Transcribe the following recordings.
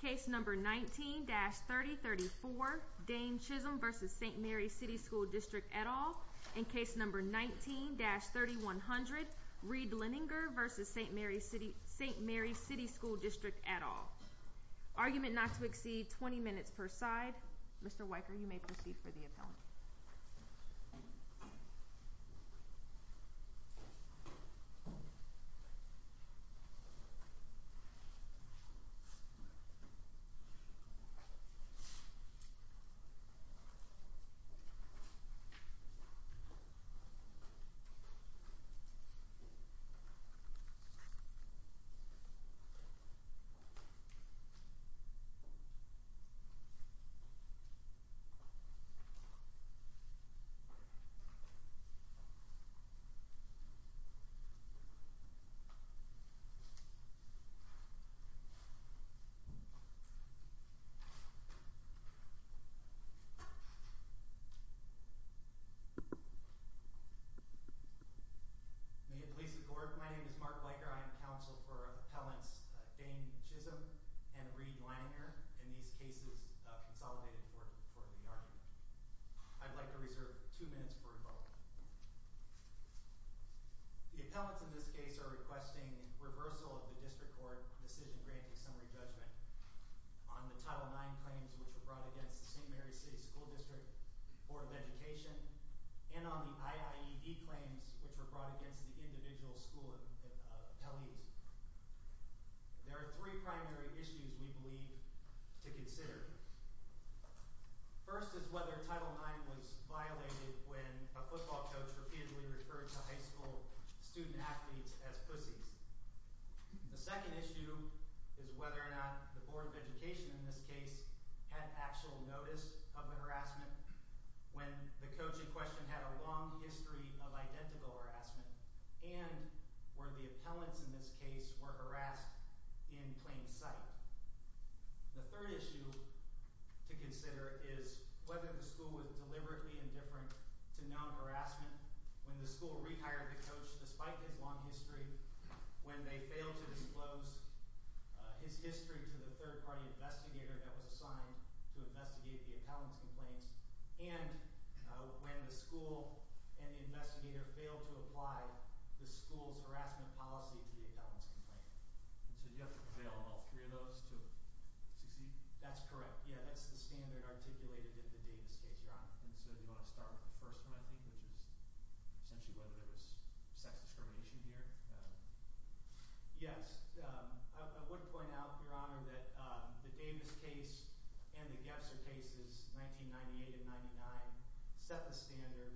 Case number 19-3034, Dane Chisholm v. St. Mary's City School District et al, and case number 19-3100, Reid Liniger v. St. Mary's City School District et al. Argument not to exceed 20 minutes per side. Mr. Weicker, you may proceed for the appellant. Mr. Weicker, you may proceed for the appellant. May it please the Court, my name is Mark Weicker, I am counsel for Appellants Dane Chisholm and Reid Liniger in these cases consolidated for the argument. I'd like to reserve two minutes for rebuttal. The appellants in this case are requesting reversal of the District Court Decision Granting Summary Judgment on the Title IX claims which were brought against the St. Mary's City School District Board of Education and on the IIED claims which were brought against the individual school appellees. There are three primary issues we believe to consider. First is whether Title IX was violated when a football coach was profusely referred to high school student athletes as pussies. The second issue is whether or not the Board of Education in this case had actual notice of the harassment when the coaching question had a long history of identical harassment and were the appellants in this case were harassed in plain sight. The third issue to consider is whether the school was harassed when the school rehired the coach despite his long history, when they failed to disclose his history to the third party investigator that was assigned to investigate the appellant's complaints, and when the school and the investigator failed to apply the school's harassment policy to the appellant's complaint. So you have to fail on all three of those to succeed? That's correct. Yeah, that's the standard articulated in the Davis case, Your Honor. And so do you want to start with the first one, I think, which is essentially whether there was sex discrimination here? Yes. I would point out, Your Honor, that the Davis case and the Gebser cases, 1998 and 1999, set the standard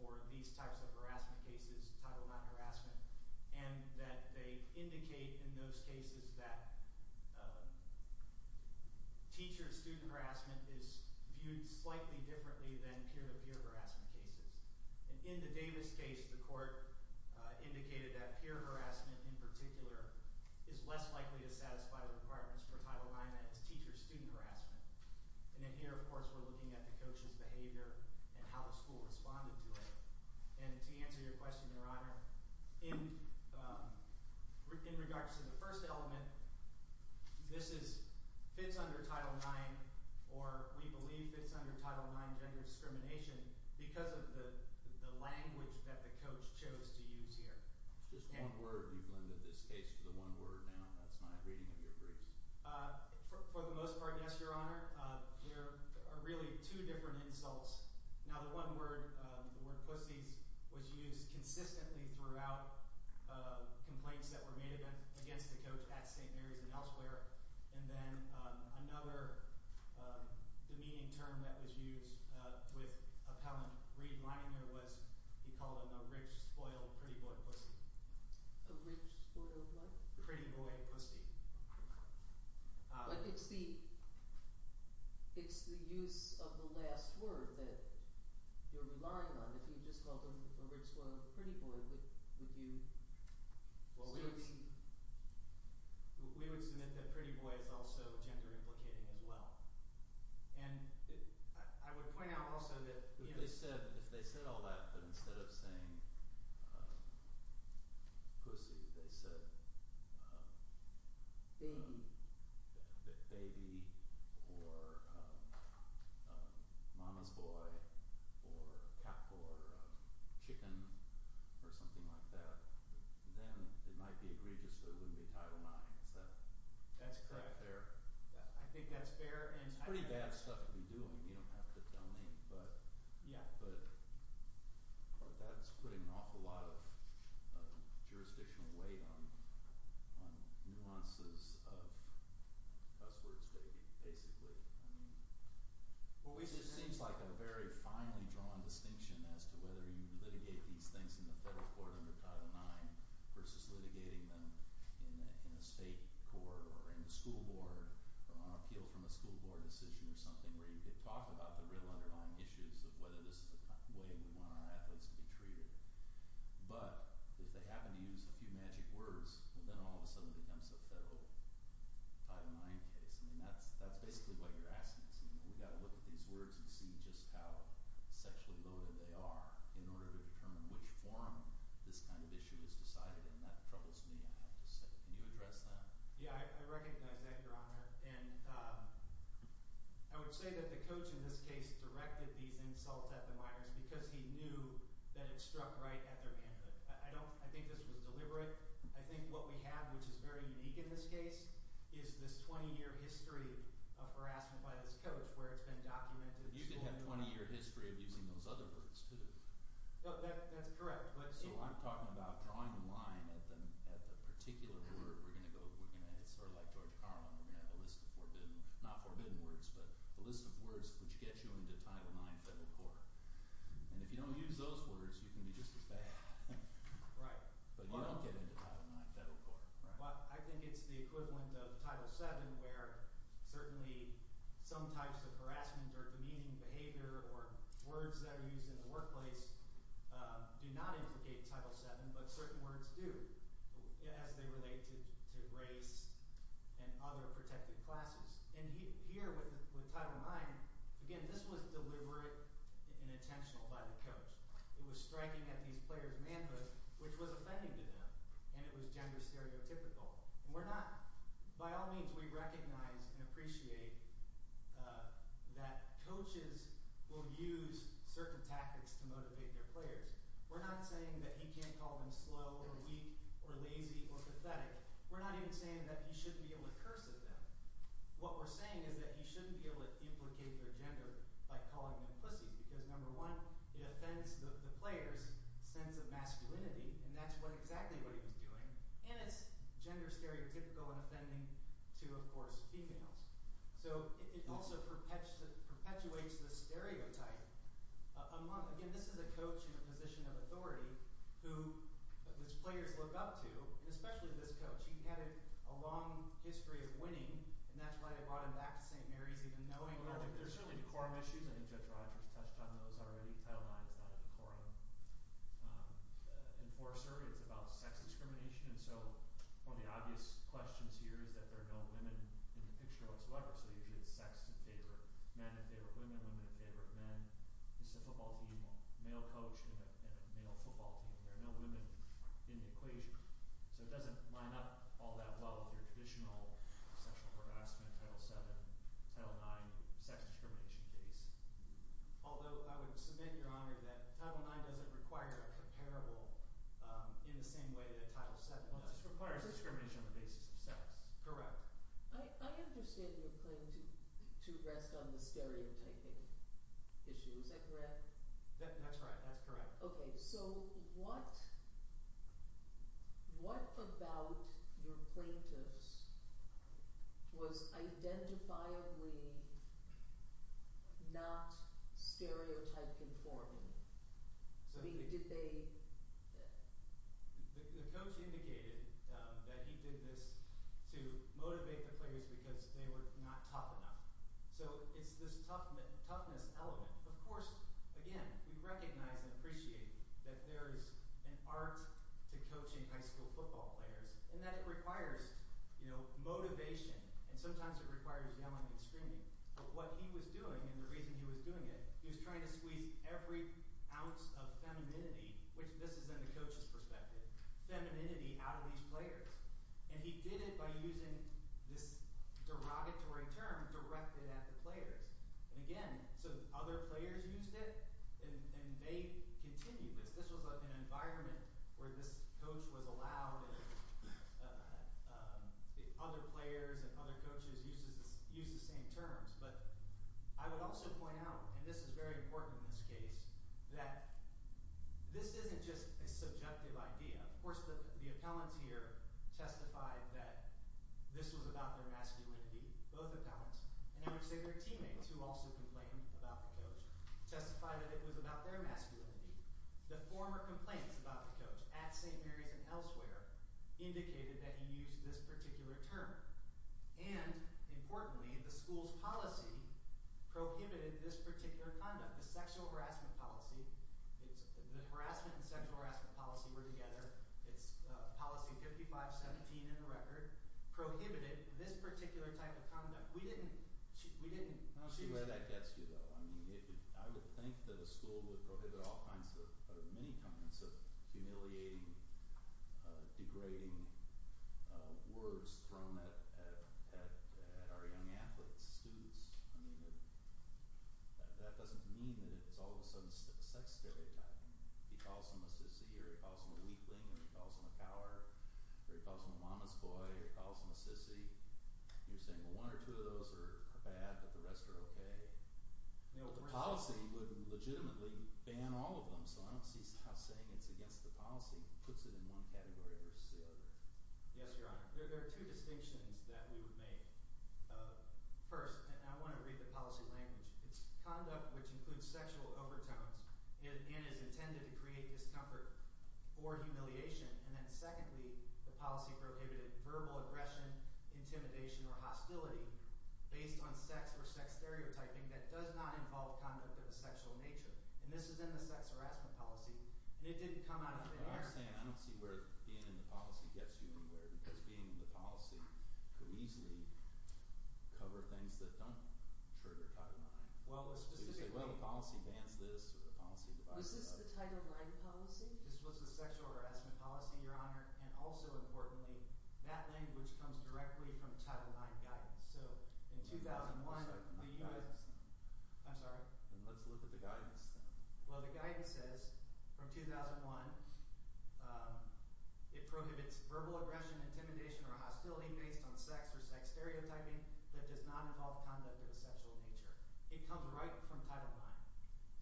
for these types of harassment cases, Title IX harassment, and that they indicate in those cases that teacher-student harassment is viewed slightly differently than peer-to-peer harassment cases. And in the Davis case, the court indicated that peer harassment in particular is less likely to satisfy the requirements for Title IX as teacher-student harassment. And then here, of course, we're looking at the coach's behavior and how the school responded to it. And to answer your question, Your Honor, in regards to the first element, this fits under Title IX, or we believe fits under Title IX gender discrimination because of the language that the coach chose to use here. Just one word. You've lended this case to the one word now. That's my reading of your briefs. For the most part, yes, Your Honor. There are really two different insults. Now, the word pussies was used consistently throughout complaints that were made against the coach at St. Mary's and elsewhere. And then another demeaning term that was used with appellant Reed Lininger was he called him a rich, spoiled, pretty boy pussy. A rich, spoiled what? Pretty boy pussy. But it's the use of the last word that you're relying on. If you just called him a rich, spoiled, pretty boy, would you still be... Well, we would submit that pretty boy is also gender implicating as well. And I would point out also that... If they said all that, but instead of saying pussy, they said... Baby. Baby, or mama's boy, or cat, or chicken, or something like that, then it might be egregious so it wouldn't be Title IX. Is that... That's correct, Your Honor. I think that's fair. It's pretty bad stuff to be doing. You don't have to tell me, but that's putting an awful lot of jurisdictional weight on nuances of cuss words, basically. It seems like a very finely drawn distinction as to whether you litigate these things in the federal court under Title IX versus litigating them in a state court or in the school board or on appeal from a school board decision or something where you could talk about the real underlying issues of whether this is the way we want our athletes to be treated. But if they happen to use a few magic words, then all of a sudden it becomes a federal Title IX case. That's basically what you're asking us. We've got to look at these words and see just how sexually loaded they are in order to determine which form this kind of issue is decided in. That troubles me, I have to say. Can you address that? Yeah, I recognize that, Your Honor. I would say that the coach in this case directed these insults at the minors because he knew that it struck right at their hand. I think this was deliberate. I think what we have, which is very unique in this case, is this 20-year history of harassment by this coach where it's been documented. You could have a 20-year history of using those other words, too. That's correct. So I'm talking about drawing the line at the particular word. It's sort of like George Carlin. We're going to have a list of forbidden, not forbidden words, but a list of words which gets you into Title IX federal court. And if you don't use those words, you can be just as bad. But you don't get into Title IX federal court. I think it's the equivalent of Title VII where certainly some types of harassment or demeaning behavior or words that are used in the workplace do not implicate Title VII, but certain words do as they relate to race and other protected classes. And here with Title IX, again, this was deliberate and intentional by the coach. It was striking at these players' manhood, which was offending to them, and it was gender stereotypical. By all means, we recognize and appreciate that coaches will use certain tactics to motivate their players. We're not saying that he can't call them slow or weak or lazy or pathetic. We're not even saying that he shouldn't be able to curse at them. What we're saying is that he shouldn't be able to duplicate their gender by calling them pussies because, number one, it offends the player's sense of masculinity, and that's gender stereotypical and offending to, of course, females. So it also perpetuates the stereotype. Again, this is a coach in a position of authority who his players look up to, and especially this coach. He had a long history of winning, and that's why it brought him back to St. Mary's even knowing that. There are certainly quorum issues. I think Judge Rogers touched on those already. Title IX is about sex discrimination, and so one of the obvious questions here is that there are no women in the picture whatsoever. So usually it's sex in favor of men in favor of women, women in favor of men. It's a football team, a male coach and a male football team. There are no women in the equation. So it doesn't line up all that well with your traditional sexual harassment, Title VII, Title IX sex discrimination case. Although I would submit, Your Honor, that Title IX doesn't require a comparable in the same way that Title VII does. It requires discrimination on the basis of sex. Correct. I understand your claim to rest on the stereotyping issue. Is that correct? That's right. That's correct. Okay. So what about your plaintiffs was identifiably not stereotype conforming? The coach indicated that he did this to motivate the players because they were not tough enough. So it's this toughness element. Of course, again, we recognize and appreciate that there is an art to coaching high school football players and that it requires, you know, motivation and sometimes it requires yelling and screaming. But what he was doing and the reason he was doing it, he was trying to squeeze every ounce of femininity, which this is in the coach's perspective, femininity out of these players. And he did it by using this derogatory term directed at the players. And again, so other players used it and they continued this. This was an environment where this coach was allowed and other players and other coaches used the same terms. But I would also point out, and this is very important in this case, that this isn't just a subjective idea. Of course, the appellants here testified that this was about their masculinity, both appellants. And I would say their teammates, who also complained about the coach, testified that it was about their masculinity. The former complaints about the coach at St. Mary's and elsewhere indicated that he used this particular term. And importantly, the school's policy prohibited this particular conduct. The sexual harassment policy, the harassment and sexual harassment policy were together. It's policy 55-17 in the record, prohibited this particular type of conduct. We didn't choose it. I don't see where that gets you, though. I would think that a school would prohibit all kinds or many kinds of humiliating, degrading words thrown at our young athletes, students. I mean, that doesn't mean that it's all of a sudden a sex stereotype. He calls him a sissy or he calls him a weakling or he calls him a cower or he calls him a mama's boy or he calls him a sissy. You're saying, well, one or two of those are bad, but the rest are okay. But the policy would legitimately ban all of them. So I don't see how saying it's against the policy puts it in one category versus the other. Yes, Your Honor, there are two distinctions that we would make. First, and I want to read the policy language, it's conduct which includes sexual overtones and is intended to create discomfort or humiliation. And then secondly, the policy prohibited verbal aggression, intimidation, or hostility based on sex or sex stereotyping that does not involve conduct of a sexual nature. And this is in the sex harassment policy, and it didn't come out of thin air. I understand. I don't see where being in the policy gets you anywhere because being in the policy could easily cover things that don't trigger Title IX. Well, let's just say, well, the policy bans this or the policy divides that. Was this the Title IX policy? This was the sexual harassment policy, Your Honor. And also importantly, that language comes directly from Title IX guidance. So in 2001, the U.S. I'm sorry. Let's look at the guidance then. Well, the guidance says from 2001, it prohibits verbal aggression, intimidation, or hostility based on sex or sex stereotyping that does not involve conduct of a sexual nature. It comes right from Title IX.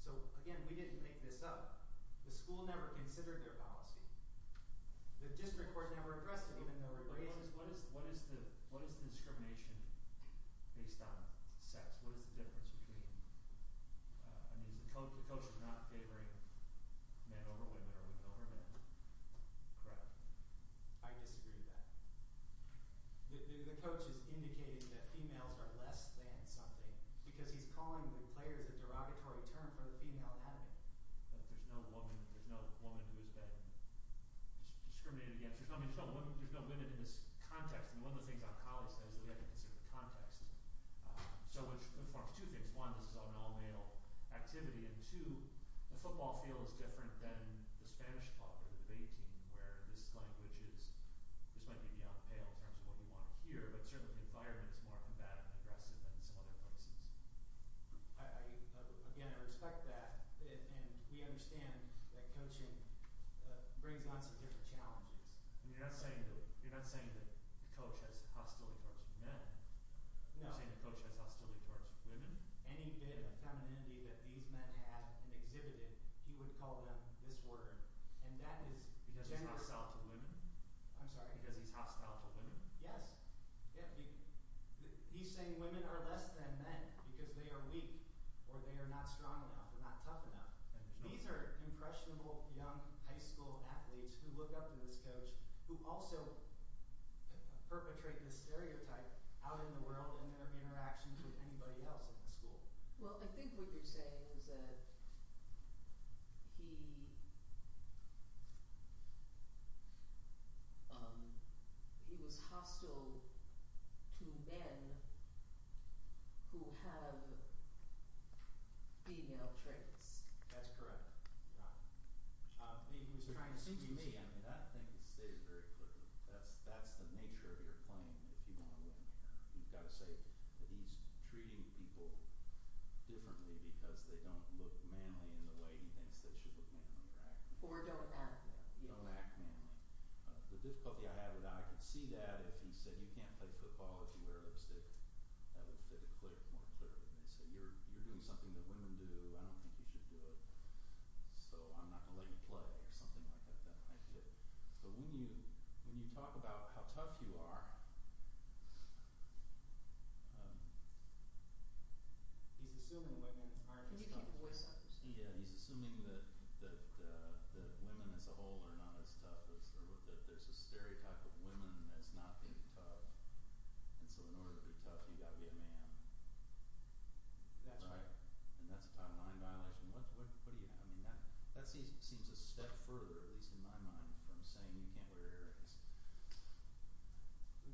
So, again, we didn't make this up. The school never considered their policy. The district court never addressed it even though it raised it. What is the discrimination based on sex? It's not favoring men over women or women over men. Correct. I disagree with that. The coach has indicated that females are less than something because he's calling the players a derogatory term for the female inhabitant. There's no woman who has been discriminated against. There's no women in this context. And one of the things I'll call is that we have to consider the context. So it informs two things. One, this is an all-male activity. And two, the football field is different than the Spanish club or the debate team where this language is – this might be beyond pale in terms of what we want to hear, but certainly the environment is more combative and aggressive than some other places. Again, I respect that, and we understand that coaching brings on some different challenges. You're not saying that the coach has hostility towards men. No. You're not saying the coach has hostility towards women. Any bit of femininity that these men have exhibited, he would call them this word. Because he's hostile to women? I'm sorry? Because he's hostile to women? Yes. He's saying women are less than men because they are weak or they are not strong enough or not tough enough. These are impressionable young high school athletes who look up to this coach who also perpetrate this stereotype out in the world in their interactions with anybody else in the school. Well, I think what you're saying is that he was hostile to men who have female traits. That's correct. It seems to me that thing stays very clear. That's the nature of your claim if you want to win. You've got to say that he's treating people differently because they don't look manly in the way he thinks they should look manly. Or don't act manly. Don't act manly. The difficulty I have with that, I can see that if he said you can't play football if you wear lipstick. That would fit more clearly. You're doing something that women do. I don't think you should do it. So I'm not going to let you play or something like that. But when you talk about how tough you are, he's assuming that women as a whole are not as tough. There's a stereotype of women as not being tough. And so in order to be tough, you've got to be a man. That's right. And that's a type of mind violation. That seems a step further, at least in my mind, from saying you can't wear earrings.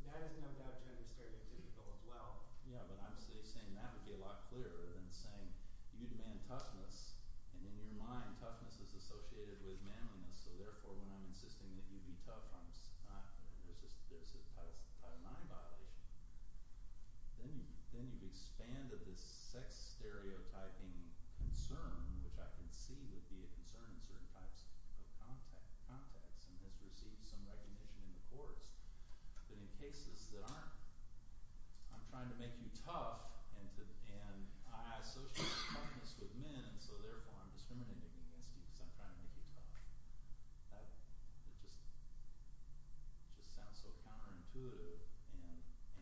That is no doubt a stereotypical as well. Yeah, but I'm saying that would be a lot clearer than saying you demand toughness. And in your mind, toughness is associated with manliness. So therefore, when I'm insisting that you be tough, there's a type of mind violation. Then you've expanded this sex stereotyping concern, which I can see would be a concern in certain types of context. And has received some recognition in the courts. But in cases that aren't, I'm trying to make you tough and I associate toughness with men. And so therefore, I'm discriminating against you because I'm trying to make you tough. That just sounds so counterintuitive.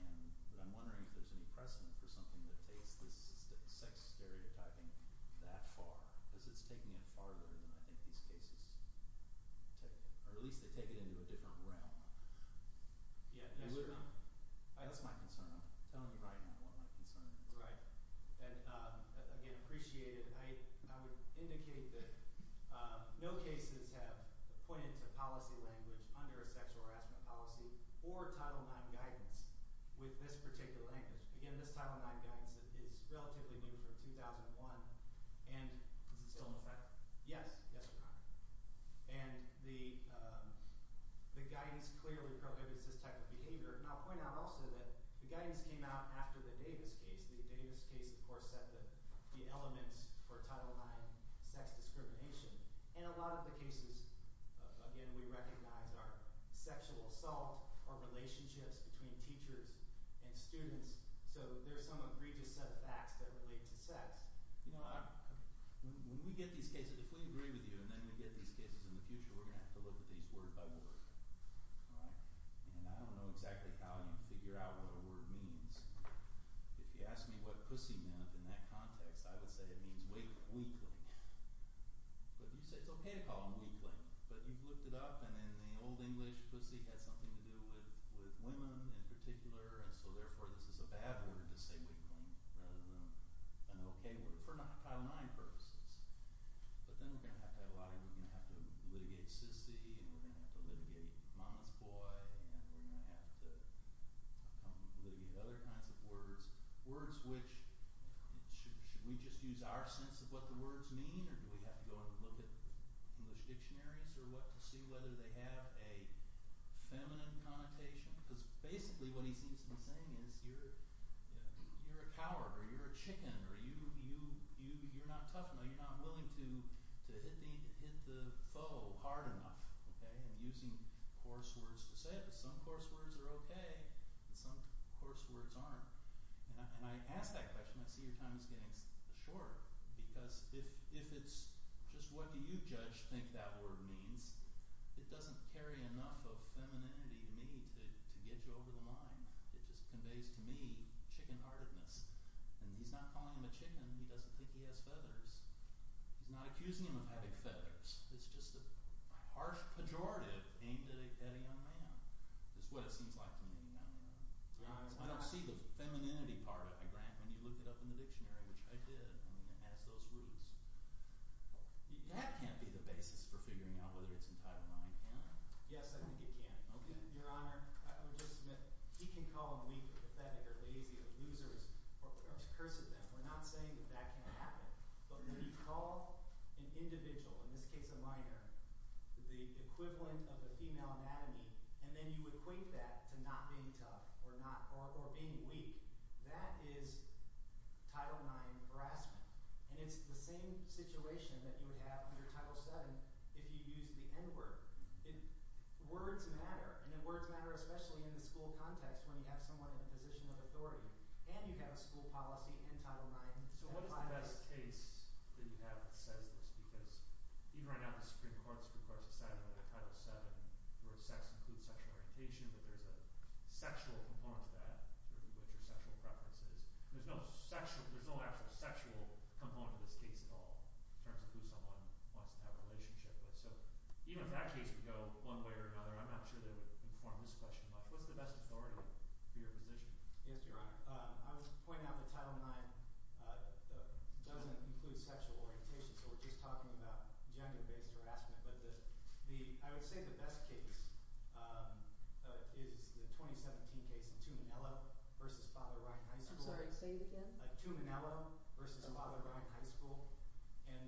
And I'm wondering if there's any precedent for something that takes this sex stereotyping that far. Because it's taking it farther than I think these cases – or at least they take it into a different realm. Yeah. That's my concern. I'm telling you right now what my concern is. Right. And, again, appreciated. I would indicate that no cases have pointed to policy language under a sexual harassment policy or Title IX guidance with this particular language. Again, this Title IX guidance is relatively new from 2001. Is it still in effect? Yes. Yes, Your Honor. And the guidance clearly prohibits this type of behavior. And I'll point out also that the guidance came out after the Davis case. The Davis case, of course, set the elements for Title IX sex discrimination. And a lot of the cases, again, we recognize are sexual assault or relationships between teachers and students. So there are some egregious set of facts that relate to sex. When we get these cases, if we agree with you and then we get these cases in the future, we're going to have to look at these word by word. And I don't know exactly how you figure out what a word means. If you ask me what pussy meant in that context, I would say it means weakling. But you say it's okay to call them weakling. But you've looked it up, and in the old English, pussy had something to do with women in particular. And so, therefore, this is a bad word to say weakling rather than an okay word for Title IX purposes. But then we're going to have to have a lot of – we're going to have to litigate sissy and we're going to have to litigate mama's boy. And we're going to have to come up with other kinds of words, words which – should we just use our sense of what the words mean? Or do we have to go and look at English dictionaries or what to see whether they have a feminine connotation? Because basically what he seems to be saying is you're a coward or you're a chicken or you're not tough enough. You're not willing to hit the foe hard enough and using coarse words to say it. But some coarse words are okay and some coarse words aren't. And I ask that question, I see your time is getting short because if it's just what do you judge think that word means, it doesn't carry enough of femininity to me to get you over the line. It just conveys to me chicken-heartedness. And he's not calling him a chicken. He doesn't think he has feathers. He's not accusing him of having feathers. It's just a harsh pejorative aimed at a young man is what it seems like to me. I don't see the femininity part of it, Grant, when you looked it up in the dictionary, which I did. I mean it has those roots. That can't be the basis for figuring out whether it's entitled mind, can it? Yes, I think it can. Your Honor, I would just submit he can call them weak or pathetic or lazy or losers or curse at them. We're not saying that that can't happen. But when you call an individual, in this case a minor, the equivalent of a female anatomy, and then you equate that to not being tough or being weak, that is Title IX harassment. And it's the same situation that you would have under Title VII if you used the N word. Words matter. And words matter especially in the school context when you have someone in a position of authority. And you have a school policy and Title IX. What is the best case that you have that says this? Because even right now the Supreme Court has decided under Title VII where sex includes sexual orientation, that there's a sexual component to that, which are sexual preferences. There's no actual sexual component to this case at all in terms of who someone wants to have a relationship with. So even if that case could go one way or another, I'm not sure that it would inform this question much. What's the best authority for your position? Yes, Your Honor. I would point out that Title IX doesn't include sexual orientation, so we're just talking about gender-based harassment. But I would say the best case is the 2017 case, Tuminello v. Father Ryan High School. I'm sorry, say it again. Tuminello v. Father Ryan High School. And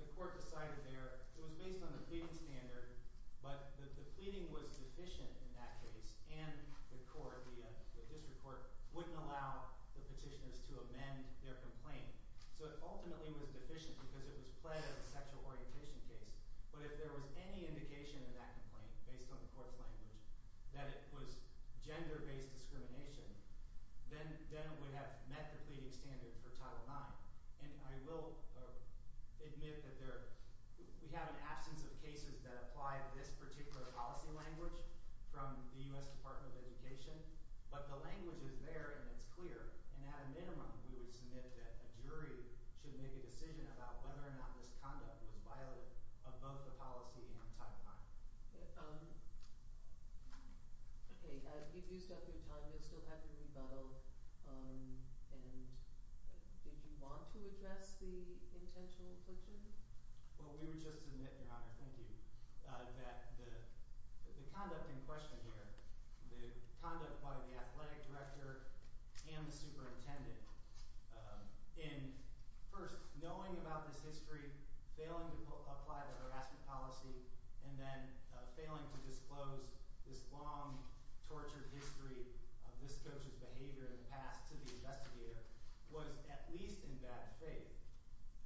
the court decided there – it was based on the pleading standard, but the pleading was deficient in that case. And the court, the district court, wouldn't allow the petitioners to amend their complaint. So it ultimately was deficient because it was pled as a sexual orientation case. But if there was any indication in that complaint based on the court's language that it was gender-based discrimination, then it would have met the pleading standard for Title IX. And I will admit that there – we have an absence of cases that apply to this particular policy language from the U.S. Department of Education. But the language is there and it's clear. And at a minimum, we would submit that a jury should make a decision about whether or not this conduct was violent of both the policy and Title IX. Okay, you've used up your time. You'll still have your rebuttal. And did you want to address the intentional affliction? Well, we would just admit, Your Honor – thank you – that the conduct in question here, the conduct by the athletic director and the superintendent, in first knowing about this history, failing to apply the harassment policy, and then failing to disclose this long, tortured history of this coach's behavior in the past to the investigator, was at least in bad faith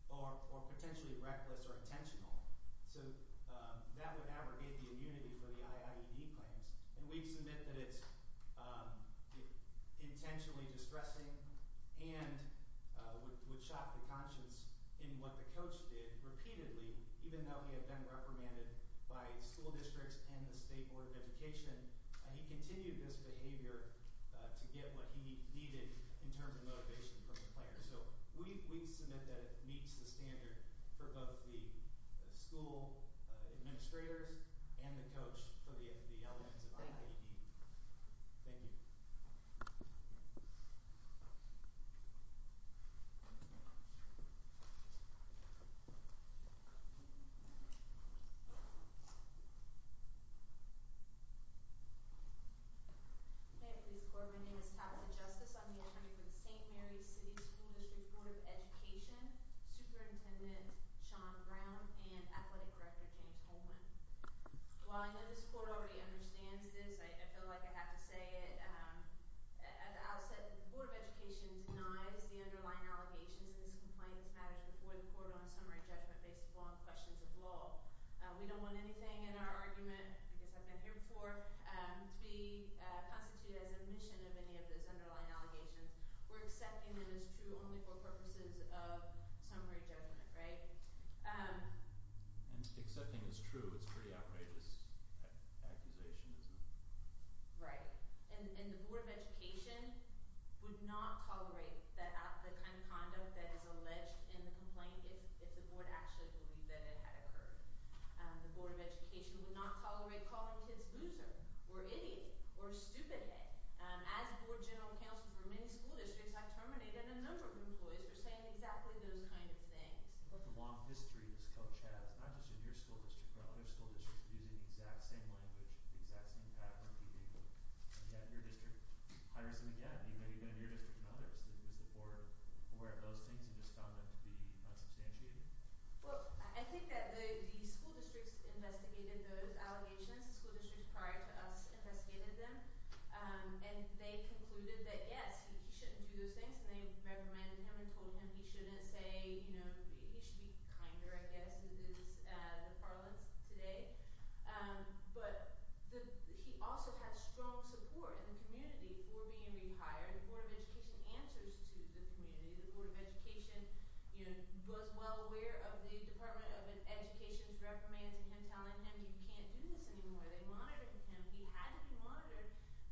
or potentially reckless or intentional. So that would abrogate the immunity for the IIED claims. And we'd submit that it's intentionally distressing and would shock the conscience in what the coach did repeatedly, even though he had been reprimanded by school districts and the State Board of Education. He continued this behavior to get what he needed in terms of motivation from the players. So we'd submit that it meets the standard for both the school administrators and the coach for the elements of IIED. Thank you. Thank you. May it please the Court, my name is Tabitha Justice. I'm the attorney for the St. Mary's City School District Board of Education, Superintendent Sean Brown, and Athletic Director James Holman. While I know this Court already understands this, I feel like I have to say it. As Al said, the Board of Education denies the underlying allegations in this complaint that's managed before the Court on summary judgment based upon questions of law. We don't want anything in our argument – I guess I've been here before – to be constituted as admission of any of those underlying allegations. We're accepting them as true only for purposes of summary judgment, right? And accepting as true is a pretty outrageous accusation, isn't it? Right. And the Board of Education would not tolerate the kind of conduct that is alleged in the complaint if the Board actually believed that it had occurred. The Board of Education would not tolerate calling kids loser or idiot or stupid head. As Board General Counsel for many school districts, I've terminated a number of employees for saying exactly those kinds of things. But the long history this coach has – not just in your school district, but other school districts – using the exact same language, the exact same pattern repeating. You had your district high-risk and again, even in your district and others. Was the Board aware of those things and just found them to be unsubstantiated? Well, I think that the school districts investigated those allegations. The school districts prior to us investigated them. And they concluded that yes, he shouldn't do those things. And they reprimanded him and told him he shouldn't say – he should be kinder, I guess, is the parlance today. But he also had strong support in the community for being rehired. The Board of Education answers to the community. The Board of Education was well aware of the Department of Education's reprimands and him telling him you can't do this anymore.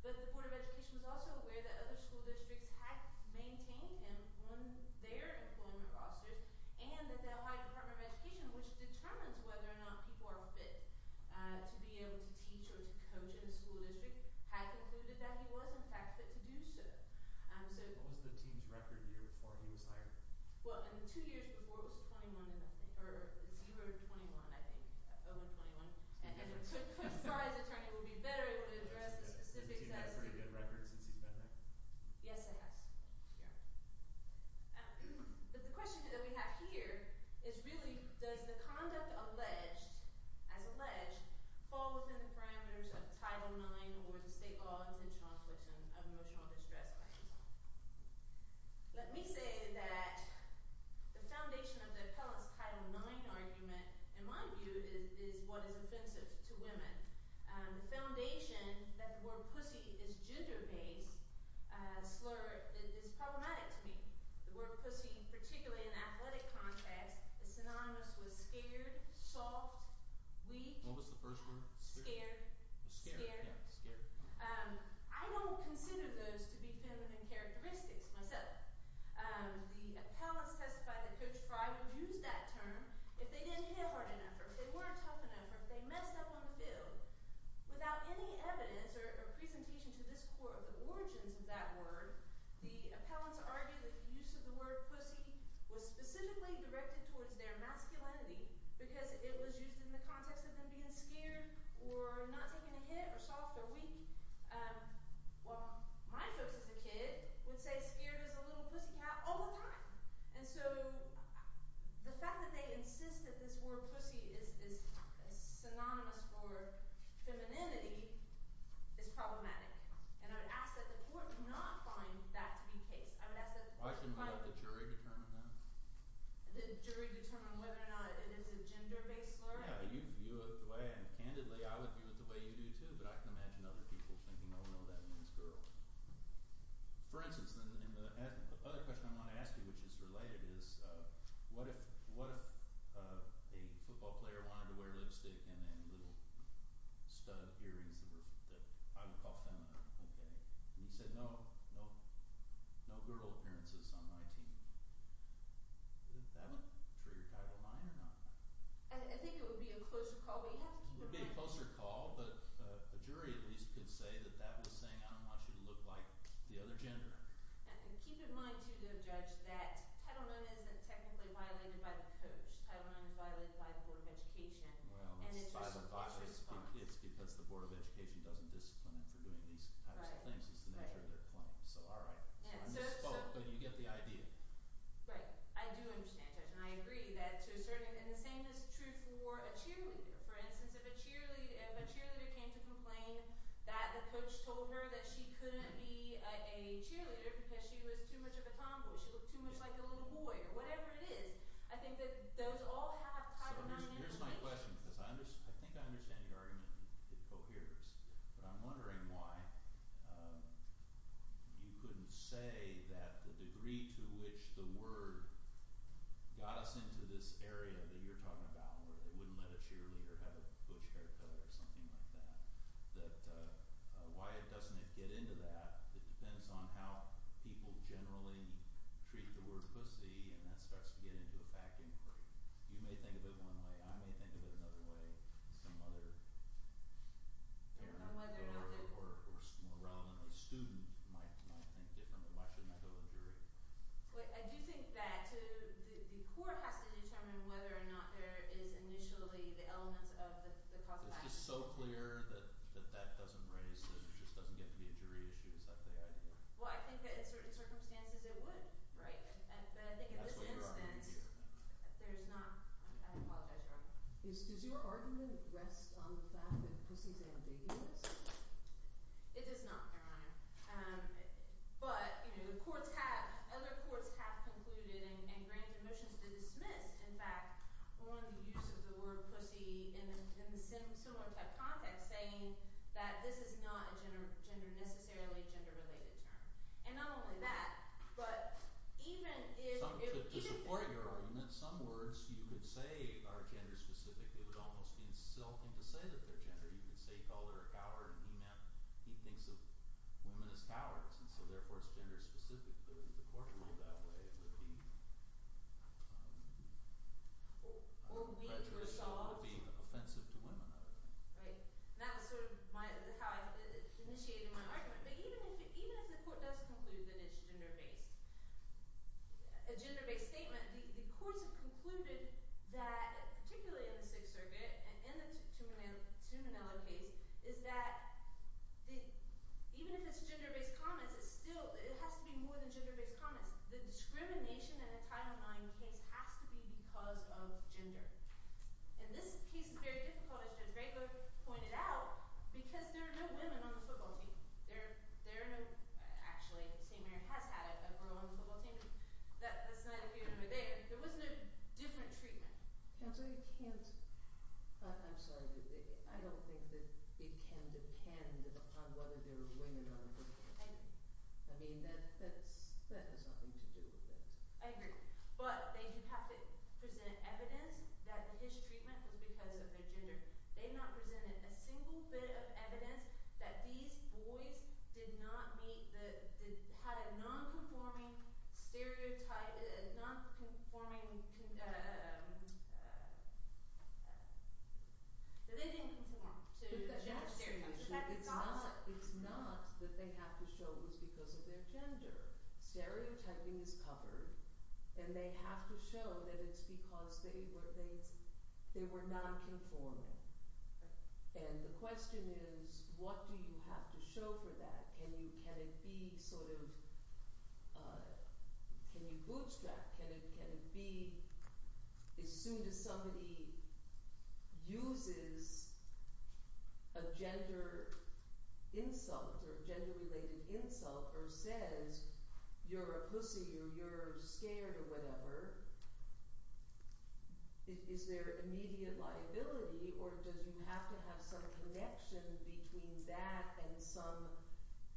But the Board of Education was also aware that other school districts had maintained him on their employment rosters. And that the Ohio Department of Education, which determines whether or not people are fit to be able to teach or to coach in a school district, had concluded that he was in fact fit to do so. What was the team's record year before he was hired? Well, in the two years before, it was 21 to nothing. Or 0 to 21, I think. 0 and 21. And if I was an attorney, I would be better able to address the specifics. Has the team had pretty good records since he's been there? Yes, it has. But the question that we have here is really, does the conduct alleged – as alleged – fall within the parameters of Title IX or the state law intentional infliction of emotional distress by himself? Let me say that the foundation of the appellant's Title IX argument, in my view, is what is offensive to women. The foundation that the word pussy is a gender-based slur is problematic to me. The word pussy, particularly in an athletic context, is synonymous with scared, soft, weak. What was the first word? Scared. Scared. I don't consider those to be feminine characteristics myself. The appellants testified that Coach Fry would use that term if they didn't hit hard enough or if they weren't tough enough or if they messed up on the field. Without any evidence or presentation to this court of the origins of that word, the appellants argue that the use of the word pussy was specifically directed towards their masculinity because it was used in the context of them being scared or not taking a hit or soft or weak. Well, my folks as a kid would say scared as a little pussycat all the time. And so the fact that they insist that this word pussy is synonymous for femininity is problematic. And I would ask that the court not find that to be the case. I would ask that – Why shouldn't the jury determine that? The jury determine whether or not it is a gender-based slur? Yeah, you view it the way – and candidly, I would view it the way you do too, but I can imagine other people thinking, oh no, that means girl. For instance, the other question I want to ask you, which is related, is what if a football player wanted to wear lipstick and little stud earrings that I would call feminine? And he said no, no girl appearances on my team. That would trigger Title IX or not? I think it would be a closer call. It would be a closer call, but a jury at least could say that that was saying I don't want you to look like the other gender. And keep in mind too, Judge, that Title IX isn't technically violated by the coach. Title IX is violated by the Board of Education. Well, it's because the Board of Education doesn't discipline them for doing these types of things. It's the nature of their claim. So all right. I misspoke, but you get the idea. Right. I do understand, Judge. And I agree. And the same is true for a cheerleader. For instance, if a cheerleader came to complain that the coach told her that she couldn't be a cheerleader because she was too much of a tomboy, she looked too much like a little boy, or whatever it is, I think that those all have Title IX implications. Here's my question because I think I understand your argument. It coheres. But I'm wondering why you couldn't say that the degree to which the word got us into this area that you're talking about where they wouldn't let a cheerleader have a butch haircut or something like that, that why doesn't it get into that? It depends on how people generally treat the word pussy, and that starts to get into a fact inquiry. You may think of it one way. I may think of it another way. Some other court or, more relevantly, student might think differently. Why shouldn't I go to a jury? I do think that the court has to determine whether or not there is initially the elements of the cause of action. It's just so clear that that doesn't raise – it just doesn't get to be a jury issue. Is that the idea? Well, I think that in certain circumstances it would. Right. But I think in this instance there's not – I apologize, Your Honor. Does your argument rest on the fact that pussy is ambiguous? It does not, Your Honor. But the courts have – other courts have concluded and granted motions to dismiss, in fact, on the use of the word pussy in the similar type context saying that this is not a gender – necessarily a gender-related term. And not only that, but even if – To support your argument, some words you could say are gender-specific. It would almost be insulting to say that they're gender. You could say he called her a coward and he meant – he thinks of women as cowards, and so therefore it's gender-specific. But if the court ruled that way, it would be prejudicial or being offensive to women. Right. And that was sort of my – how I initiated my argument. But even if the court does conclude that it's gender-based, a gender-based statement, the courts have concluded that, particularly in the Sixth Circuit and in the Tuminello case, is that even if it's gender-based comments, it still – it has to be more than gender-based comments. The discrimination in the Title IX case has to be because of gender. And this piece is very difficult, as Judge Rago pointed out, because there are no women on the football team. There are no – actually, St. Mary has had a girl on the football team. That's not a human over there. There was no different treatment. Counsel, you can't – I'm sorry. I don't think that it can depend upon whether there are women on the football team. I agree. I mean that has nothing to do with it. I agree. But they have to present evidence that his treatment was because of their gender. They not presented a single bit of evidence that these boys did not meet the – had a non-conforming stereotype – non-conforming – that they didn't conform to gender stereotypes. It's not that they have to show it was because of their gender. Stereotyping is covered, and they have to show that it's because they were non-conforming. And the question is, what do you have to show for that? Can you – can it be sort of – can you bootstrap? Can it be – as soon as somebody uses a gender insult or a gender-related insult or says, you're a pussy or you're scared or whatever, is there immediate liability or does you have to have some connection between that and some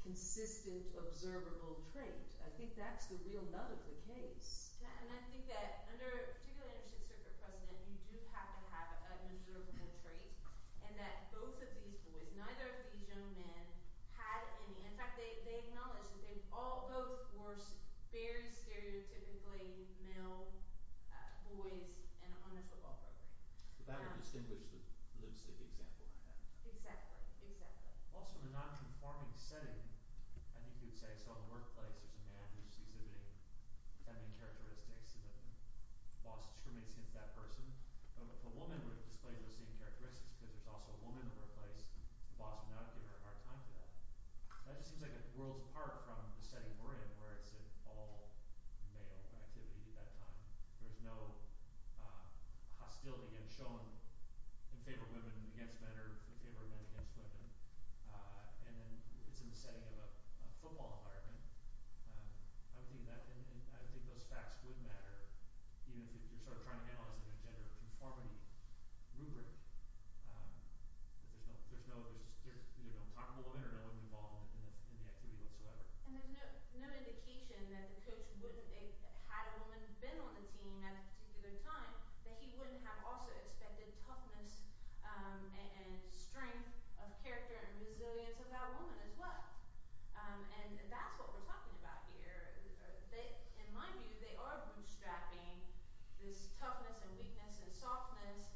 consistent observable trait? I think that's the real nut of the case. And I think that under – particularly under Schitt's Creek precedent, you do have to have an observable trait and that both of these boys, neither of these young men, had any. In fact, they acknowledged that they all both were very stereotypically male boys on the football program. It's better to distinguish the lipstick example than that. Exactly. Exactly. Also, in a non-conforming setting, I think you'd say – so in the workplace, there's a man who's exhibiting feminine characteristics and the boss discriminates against that person. But if a woman were to display those same characteristics because there's also a woman in the workplace, the boss would not give her a hard time for that. That just seems like it whirls apart from the setting we're in where it's an all-male activity at that time. There's no hostility shown in favor of women against men or in favor of men against women. And then it's in the setting of a football environment. I would think that – and I think those facts would matter even if you're sort of trying to analyze it in a gender conformity rubric. There's no – there's no – there's either no talkable women or no women involved in the activity whatsoever. And there's no indication that the coach wouldn't – had a woman been on the team at a particular time, that he wouldn't have also expected toughness and strength of character and resilience of that woman as well. And that's what we're talking about here. In my view, they are bootstrapping this toughness and weakness and softness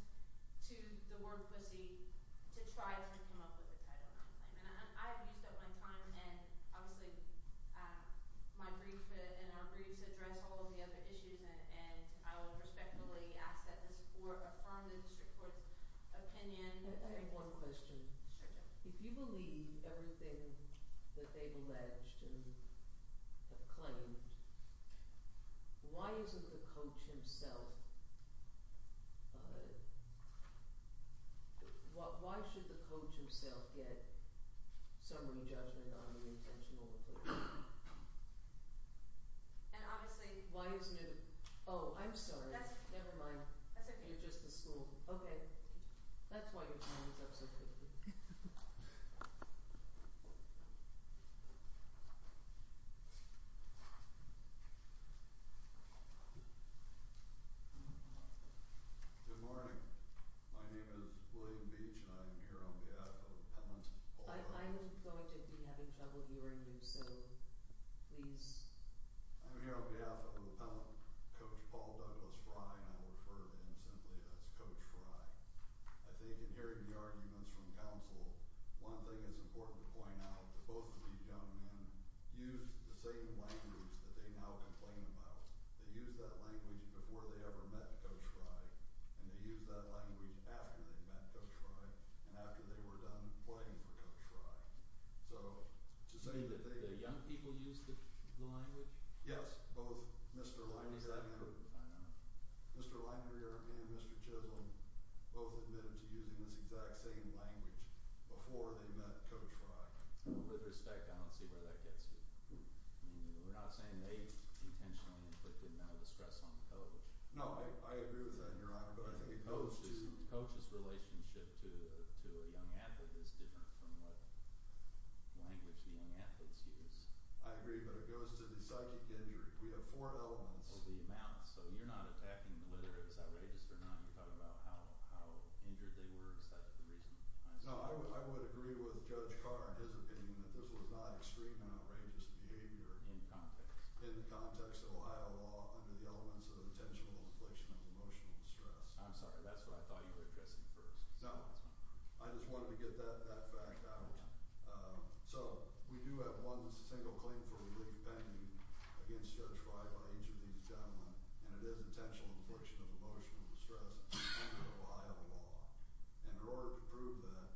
to the word pussy to try to come up with a title non-claim. And I've used up my time, and obviously my brief and our briefs address all of the other issues. And I would respectfully ask that this court affirm the district court's opinion. I have one question. If you believe everything that they've alleged and have claimed, why isn't the coach himself – why should the coach himself get summary judgment on the intentional football? And obviously – Why isn't it – oh, I'm sorry. Never mind. That's okay. Thank you. Good morning. My name is William Beach, and I am here on behalf of the Pennant. I'm going to be having trouble hearing you, so please. I'm here on behalf of the Pennant, Coach Paul Douglas Frye, and I will refer to him simply as Coach Frye. I think in hearing the arguments from counsel, one thing that's important to point out is that both of these young men used the same language that they now complain about. They used that language before they ever met Coach Frye, and they used that language after they met Coach Frye and after they were done playing for Coach Frye. So to say that they – You mean that the young people used the language? Yes. Both Mr. Linder – I know. Mr. Linder and Mr. Chisholm both admitted to using this exact same language before they met Coach Frye. With respect, I don't see where that gets you. We're not saying they intentionally inflicted mental distress on Coach. No, I agree with that, Your Honor, but I think it goes to – Coach's relationship to a young athlete is different from what language the young athletes use. I agree, but it goes to the psychic injury. We have four elements. So you're not attacking whether it was outrageous or not. You're talking about how injured they were. Is that the reason? No, I would agree with Judge Carr in his opinion that this was not extremely outrageous behavior. In context? In the context of Ohio law under the elements of intentional inflation of emotional distress. I'm sorry. That's what I thought you were addressing first. No. I just wanted to get that fact out. So we do have one single claim for relief pending against Judge Frye by each of these gentlemen, and it is intentional inflation of emotional distress under Ohio law. And in order to prove that,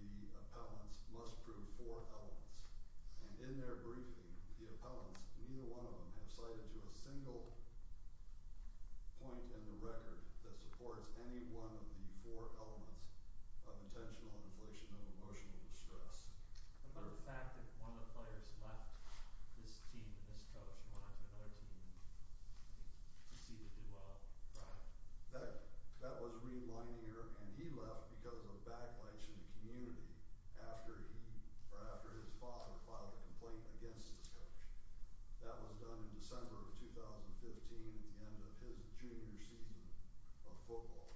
the appellants must prove four elements. And in their briefing, the appellants, neither one of them, have cited to a single point in the record that supports any one of the four elements of intentional inflation of emotional distress. And what about the fact that one of the players left this team and this coach and went on to another team and proceeded to do well? That was Reed Leininger, and he left because of backlash in the community after his father filed a complaint against this coach. That was done in December of 2015 at the end of his junior season of football.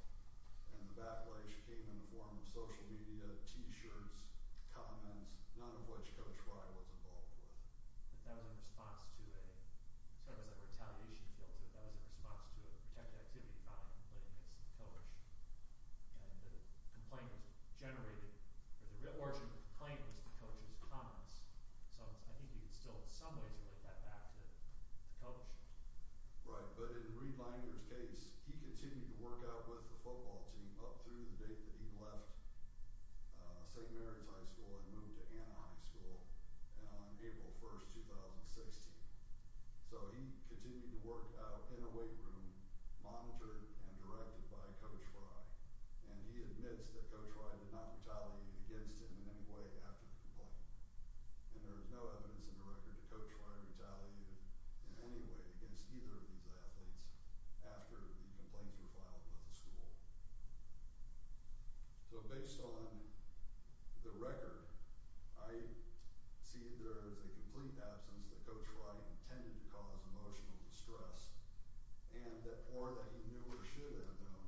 And the backlash came in the form of social media, T-shirts, comments, none of which Coach Frye was involved with. But that was in response to a – sort of as a retaliation field to it. That was in response to a protected activity filing complaint against the coach. And the complaint was generated – or the origin of the complaint was the coach's comments. So I think you can still in some ways relate that back to the coach. Right. But in Reed Leininger's case, he continued to work out with the football team up through the date that he left St. Mary's High School and moved to Anna High School on April 1st, 2016. So he continued to work out in a weight room, monitored and directed by Coach Frye. And he admits that Coach Frye did not retaliate against him in any way after the complaint. And there is no evidence in the record that Coach Frye retaliated in any way against either of these athletes after the complaints were filed with the school. So based on the record, I see there is a complete absence that Coach Frye intended to cause emotional distress or that he knew or should have known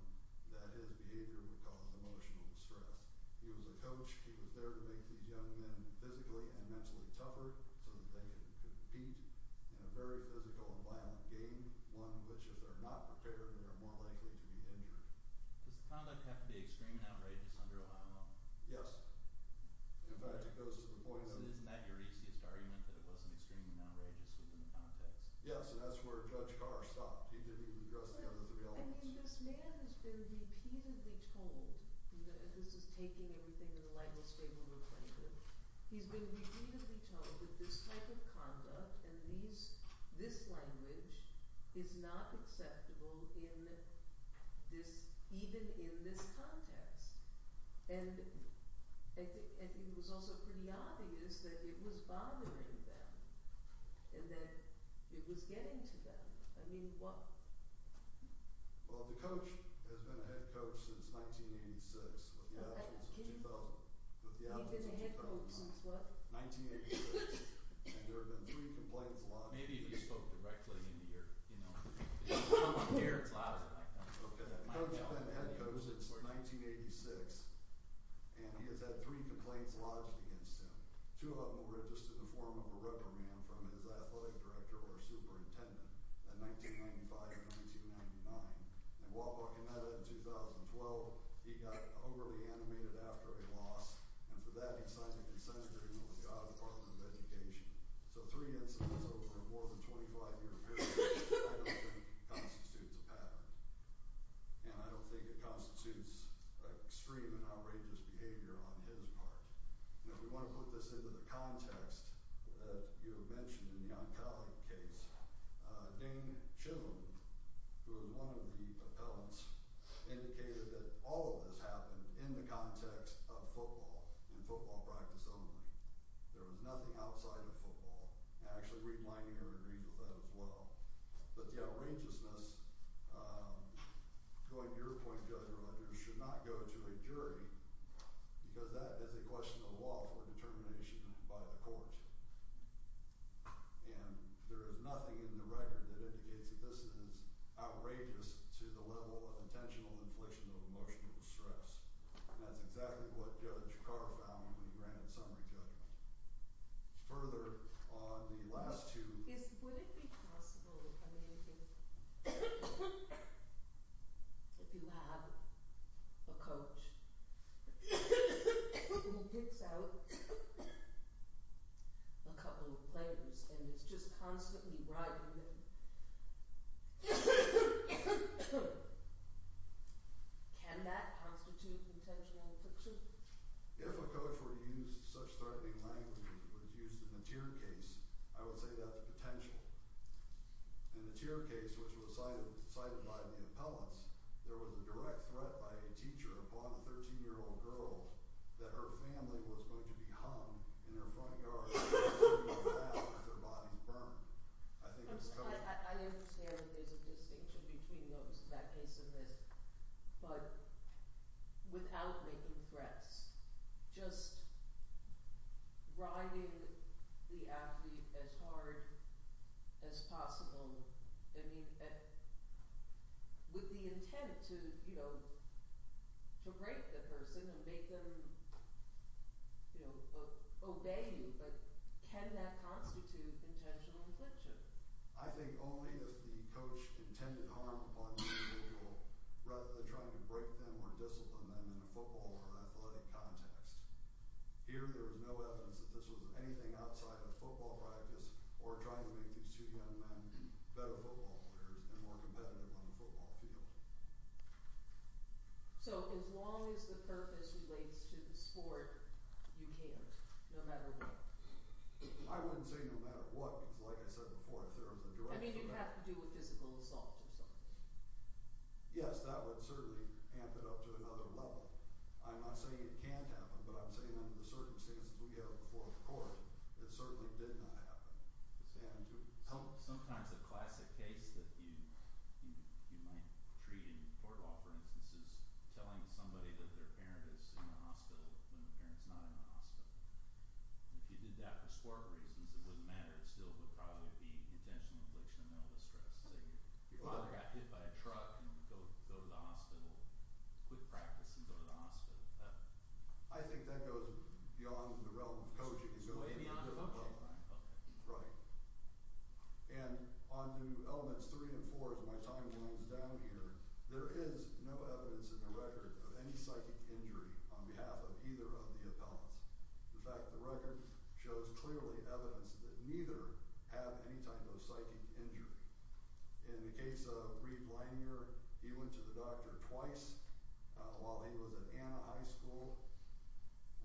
that his behavior would cause emotional distress. He was a coach. He was there to make these young men physically and mentally tougher so that they could compete in a very physical and violent game, one in which if they're not prepared, they're more likely to be injured. Does the conduct have to be extreme and outrageous under Ohio law? Yes. In fact, it goes to the point that – Isn't that your easiest argument, that it wasn't extreme and outrageous within the context? Yes, and that's where Judge Carr stopped. He didn't even address the other three elements. I mean, this man has been repeatedly told – and this is taking everything in a light and stable relationship – he's been repeatedly told that this type of conduct and this language is not acceptable even in this context. And I think it was also pretty obvious that it was bothering them and that it was getting to them. I mean, what? Well, the coach has been a head coach since 1986 with the absence of – He's been a head coach since what? 1986, and there have been three complaints lodged against him. Maybe if you spoke directly into your – The coach has been a head coach since 1986, and he has had three complaints lodged against him. Two of them were just in the form of a reprimand from his athletic director or superintendent in 1995 and 1999. In Guadalcanal in 2012, he got overly animated after a loss, and for that he signed a consent agreement with the Ohio Department of Education. So three incidents over a more than 25-year period, I don't think, constitutes a pattern. And I don't think it constitutes extreme and outrageous behavior on his part. And if we want to put this into the context that you have mentioned in the oncology case, Dane Chivlin, who was one of the appellants, indicated that all of this happened in the context of football, in football practice only. There was nothing outside of football. And I actually read my interview and agreed with that as well. But the outrageousness, going to your point, Judge Rogers, should not go to a jury because that is a question of lawful determination by the court. And there is nothing in the record that indicates that this is outrageous to the level of intentional infliction of emotional stress. And that's exactly what Judge Carr found when he granted summary judgment. Further, on the last two. Would it be possible, I mean, if you have a coach who picks out a couple of players and is just constantly riding them, can that constitute intentional infliction? If a coach were to use such threatening language as was used in the Tear case, I would say that's a potential. In the Tear case, which was cited by the appellants, there was a direct threat by a teacher upon a 13-year-old girl that her family was going to be hung in her front yard, and that their bodies burned. I understand that there's a distinction between that case and this, but without making threats, just riding the athlete as hard as possible, I mean, with the intent to break the person and make them obey you, can that constitute intentional infliction? I think only if the coach intended harm upon the individual, rather than trying to break them or discipline them in a football or athletic context. Here, there is no evidence that this was anything outside of football practice or trying to make these two young men better football players and more competitive on the football field. So as long as the purpose relates to the sport, you can't, no matter what? I wouldn't say no matter what, because like I said before, if there was a direct threat... I mean, you'd have to do with physical assault or something. Yes, that would certainly amp it up to another level. I'm not saying it can't happen, but I'm saying under the circumstances we have before the court, it certainly did not happen. Sometimes a classic case that you might treat in court law, for instance, is telling somebody that their parent is in the hospital when their parent is not in the hospital. If you did that for sport reasons, it wouldn't matter. It still would probably be intentional infliction of mental distress. Say your father got hit by a truck and you go to the hospital, quit practice and go to the hospital. I think that goes beyond the realm of coaching. Way beyond the realm of coaching. Right. And on to Elements 3 and 4, as my time runs down here, there is no evidence in the record of any psychic injury on behalf of either of the appellants. In fact, the record shows clearly evidence that neither have any type of psychic injury. In the case of Reid Langer, he went to the doctor twice while he was at Anna High School.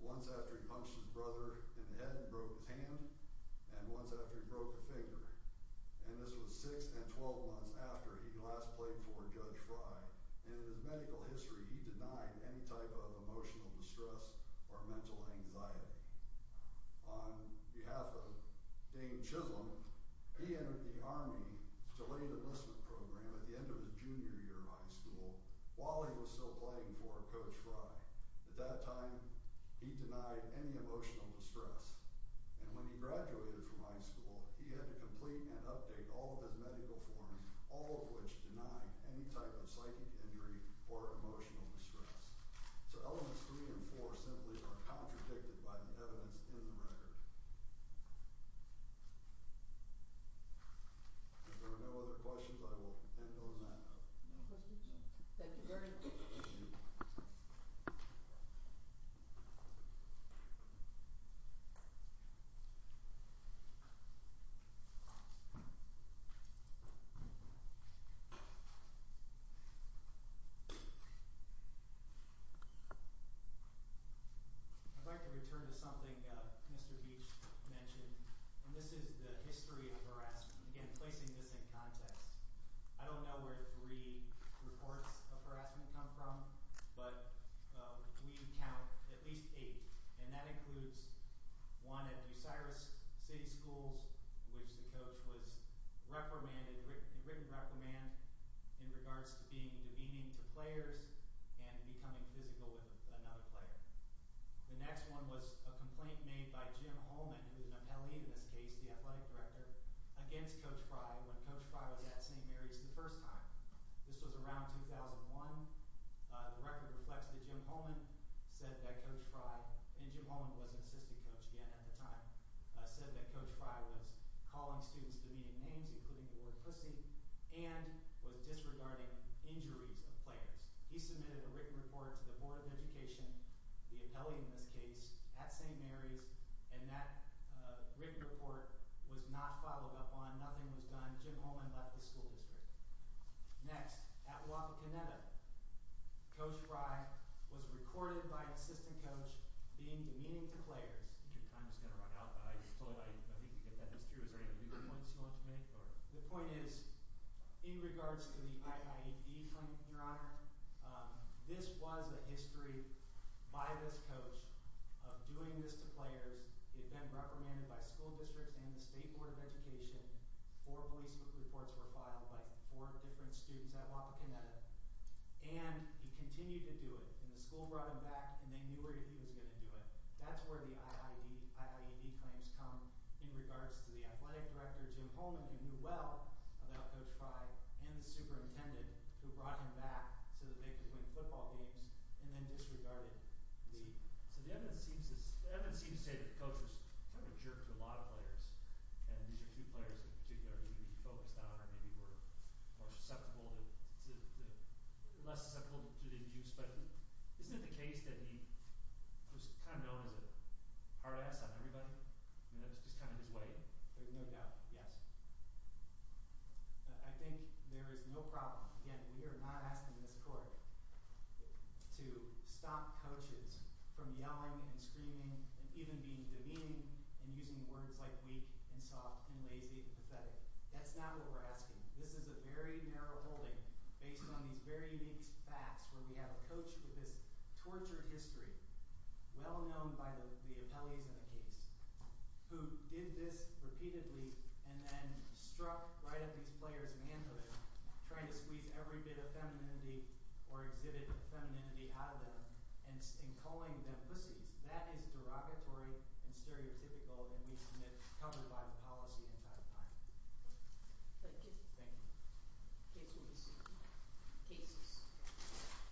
Once after he punched his brother in the head and broke his hand, and once after he broke a finger. And this was 6 and 12 months after he last played for Judge Fry. And in his medical history, he denied any type of emotional distress or mental anxiety. On behalf of Dean Chisholm, he entered the Army, delayed enlistment program, at the end of his junior year of high school, while he was still playing for Coach Fry. At that time, he denied any emotional distress. And when he graduated from high school, he had to complete and update all of his medical forms, all of which denied any type of psychic injury or emotional distress. So Elements 3 and 4 simply are contradicted by the evidence in the record. If there are no other questions, I will end on that note. Thank you very much. I'd like to return to something Mr. Beach mentioned, and this is the history of harassment. Again, placing this in context, I don't know where three reports of harassment come from, but we count at least eight, and that includes one at DeSiris City Schools, in which the coach was written reprimand in regards to being demeaning to players and becoming physical with another player. The next one was a complaint made by Jim Holman, who is an appellee in this case, the athletic director, against Coach Fry when Coach Fry was at St. Mary's the first time. This was around 2001. The record reflects that Jim Holman said that Coach Fry, and Jim Holman was an assistant coach again at the time, said that Coach Fry was calling students demeaning names, including the word pussy, and was disregarding injuries of players. He submitted a written report to the Board of Education, the appellee in this case, at St. Mary's, and that written report was not followed up on. Nothing was done. Jim Holman left the school district. Next, at Wapakoneta, Coach Fry was recorded by an assistant coach being demeaning to players. I think your time is going to run out, but I think you can get this through. Is there any legal points you want to make? This was a history by this coach of doing this to players. It had been reprimanded by school districts and the State Board of Education. Four police reports were filed by four different students at Wapakoneta, and he continued to do it, and the school brought him back, and they knew where he was going to do it. That's where the IIED claims come in regards to the athletic director, Jim Holman, who knew well about Coach Fry and the superintendent, who brought him back so that they could win football games and then disregarded the— So the evidence seems to say that the coach was kind of a jerk to a lot of players, and these are two players in particular he may be focused on or maybe were more susceptible to—less susceptible to the abuse, but isn't it the case that he was kind of known as a hard ass on everybody? I mean, that was just kind of his way? There's no doubt. Yes? I think there is no problem— Again, we are not asking this court to stop coaches from yelling and screaming and even being demeaning and using words like weak and soft and lazy and pathetic. That's not what we're asking. This is a very narrow holding based on these very unique facts where we have a coach with this tortured history, well known by the appellees in the case, who did this repeatedly and then struck right at these players in the hands of him, trying to squeeze every bit of femininity or exhibit femininity out of them and calling them pussies. That is derogatory and stereotypical and we submit it's covered by the policy entirely. Thank you. Thank you. The case will be seen. Cases.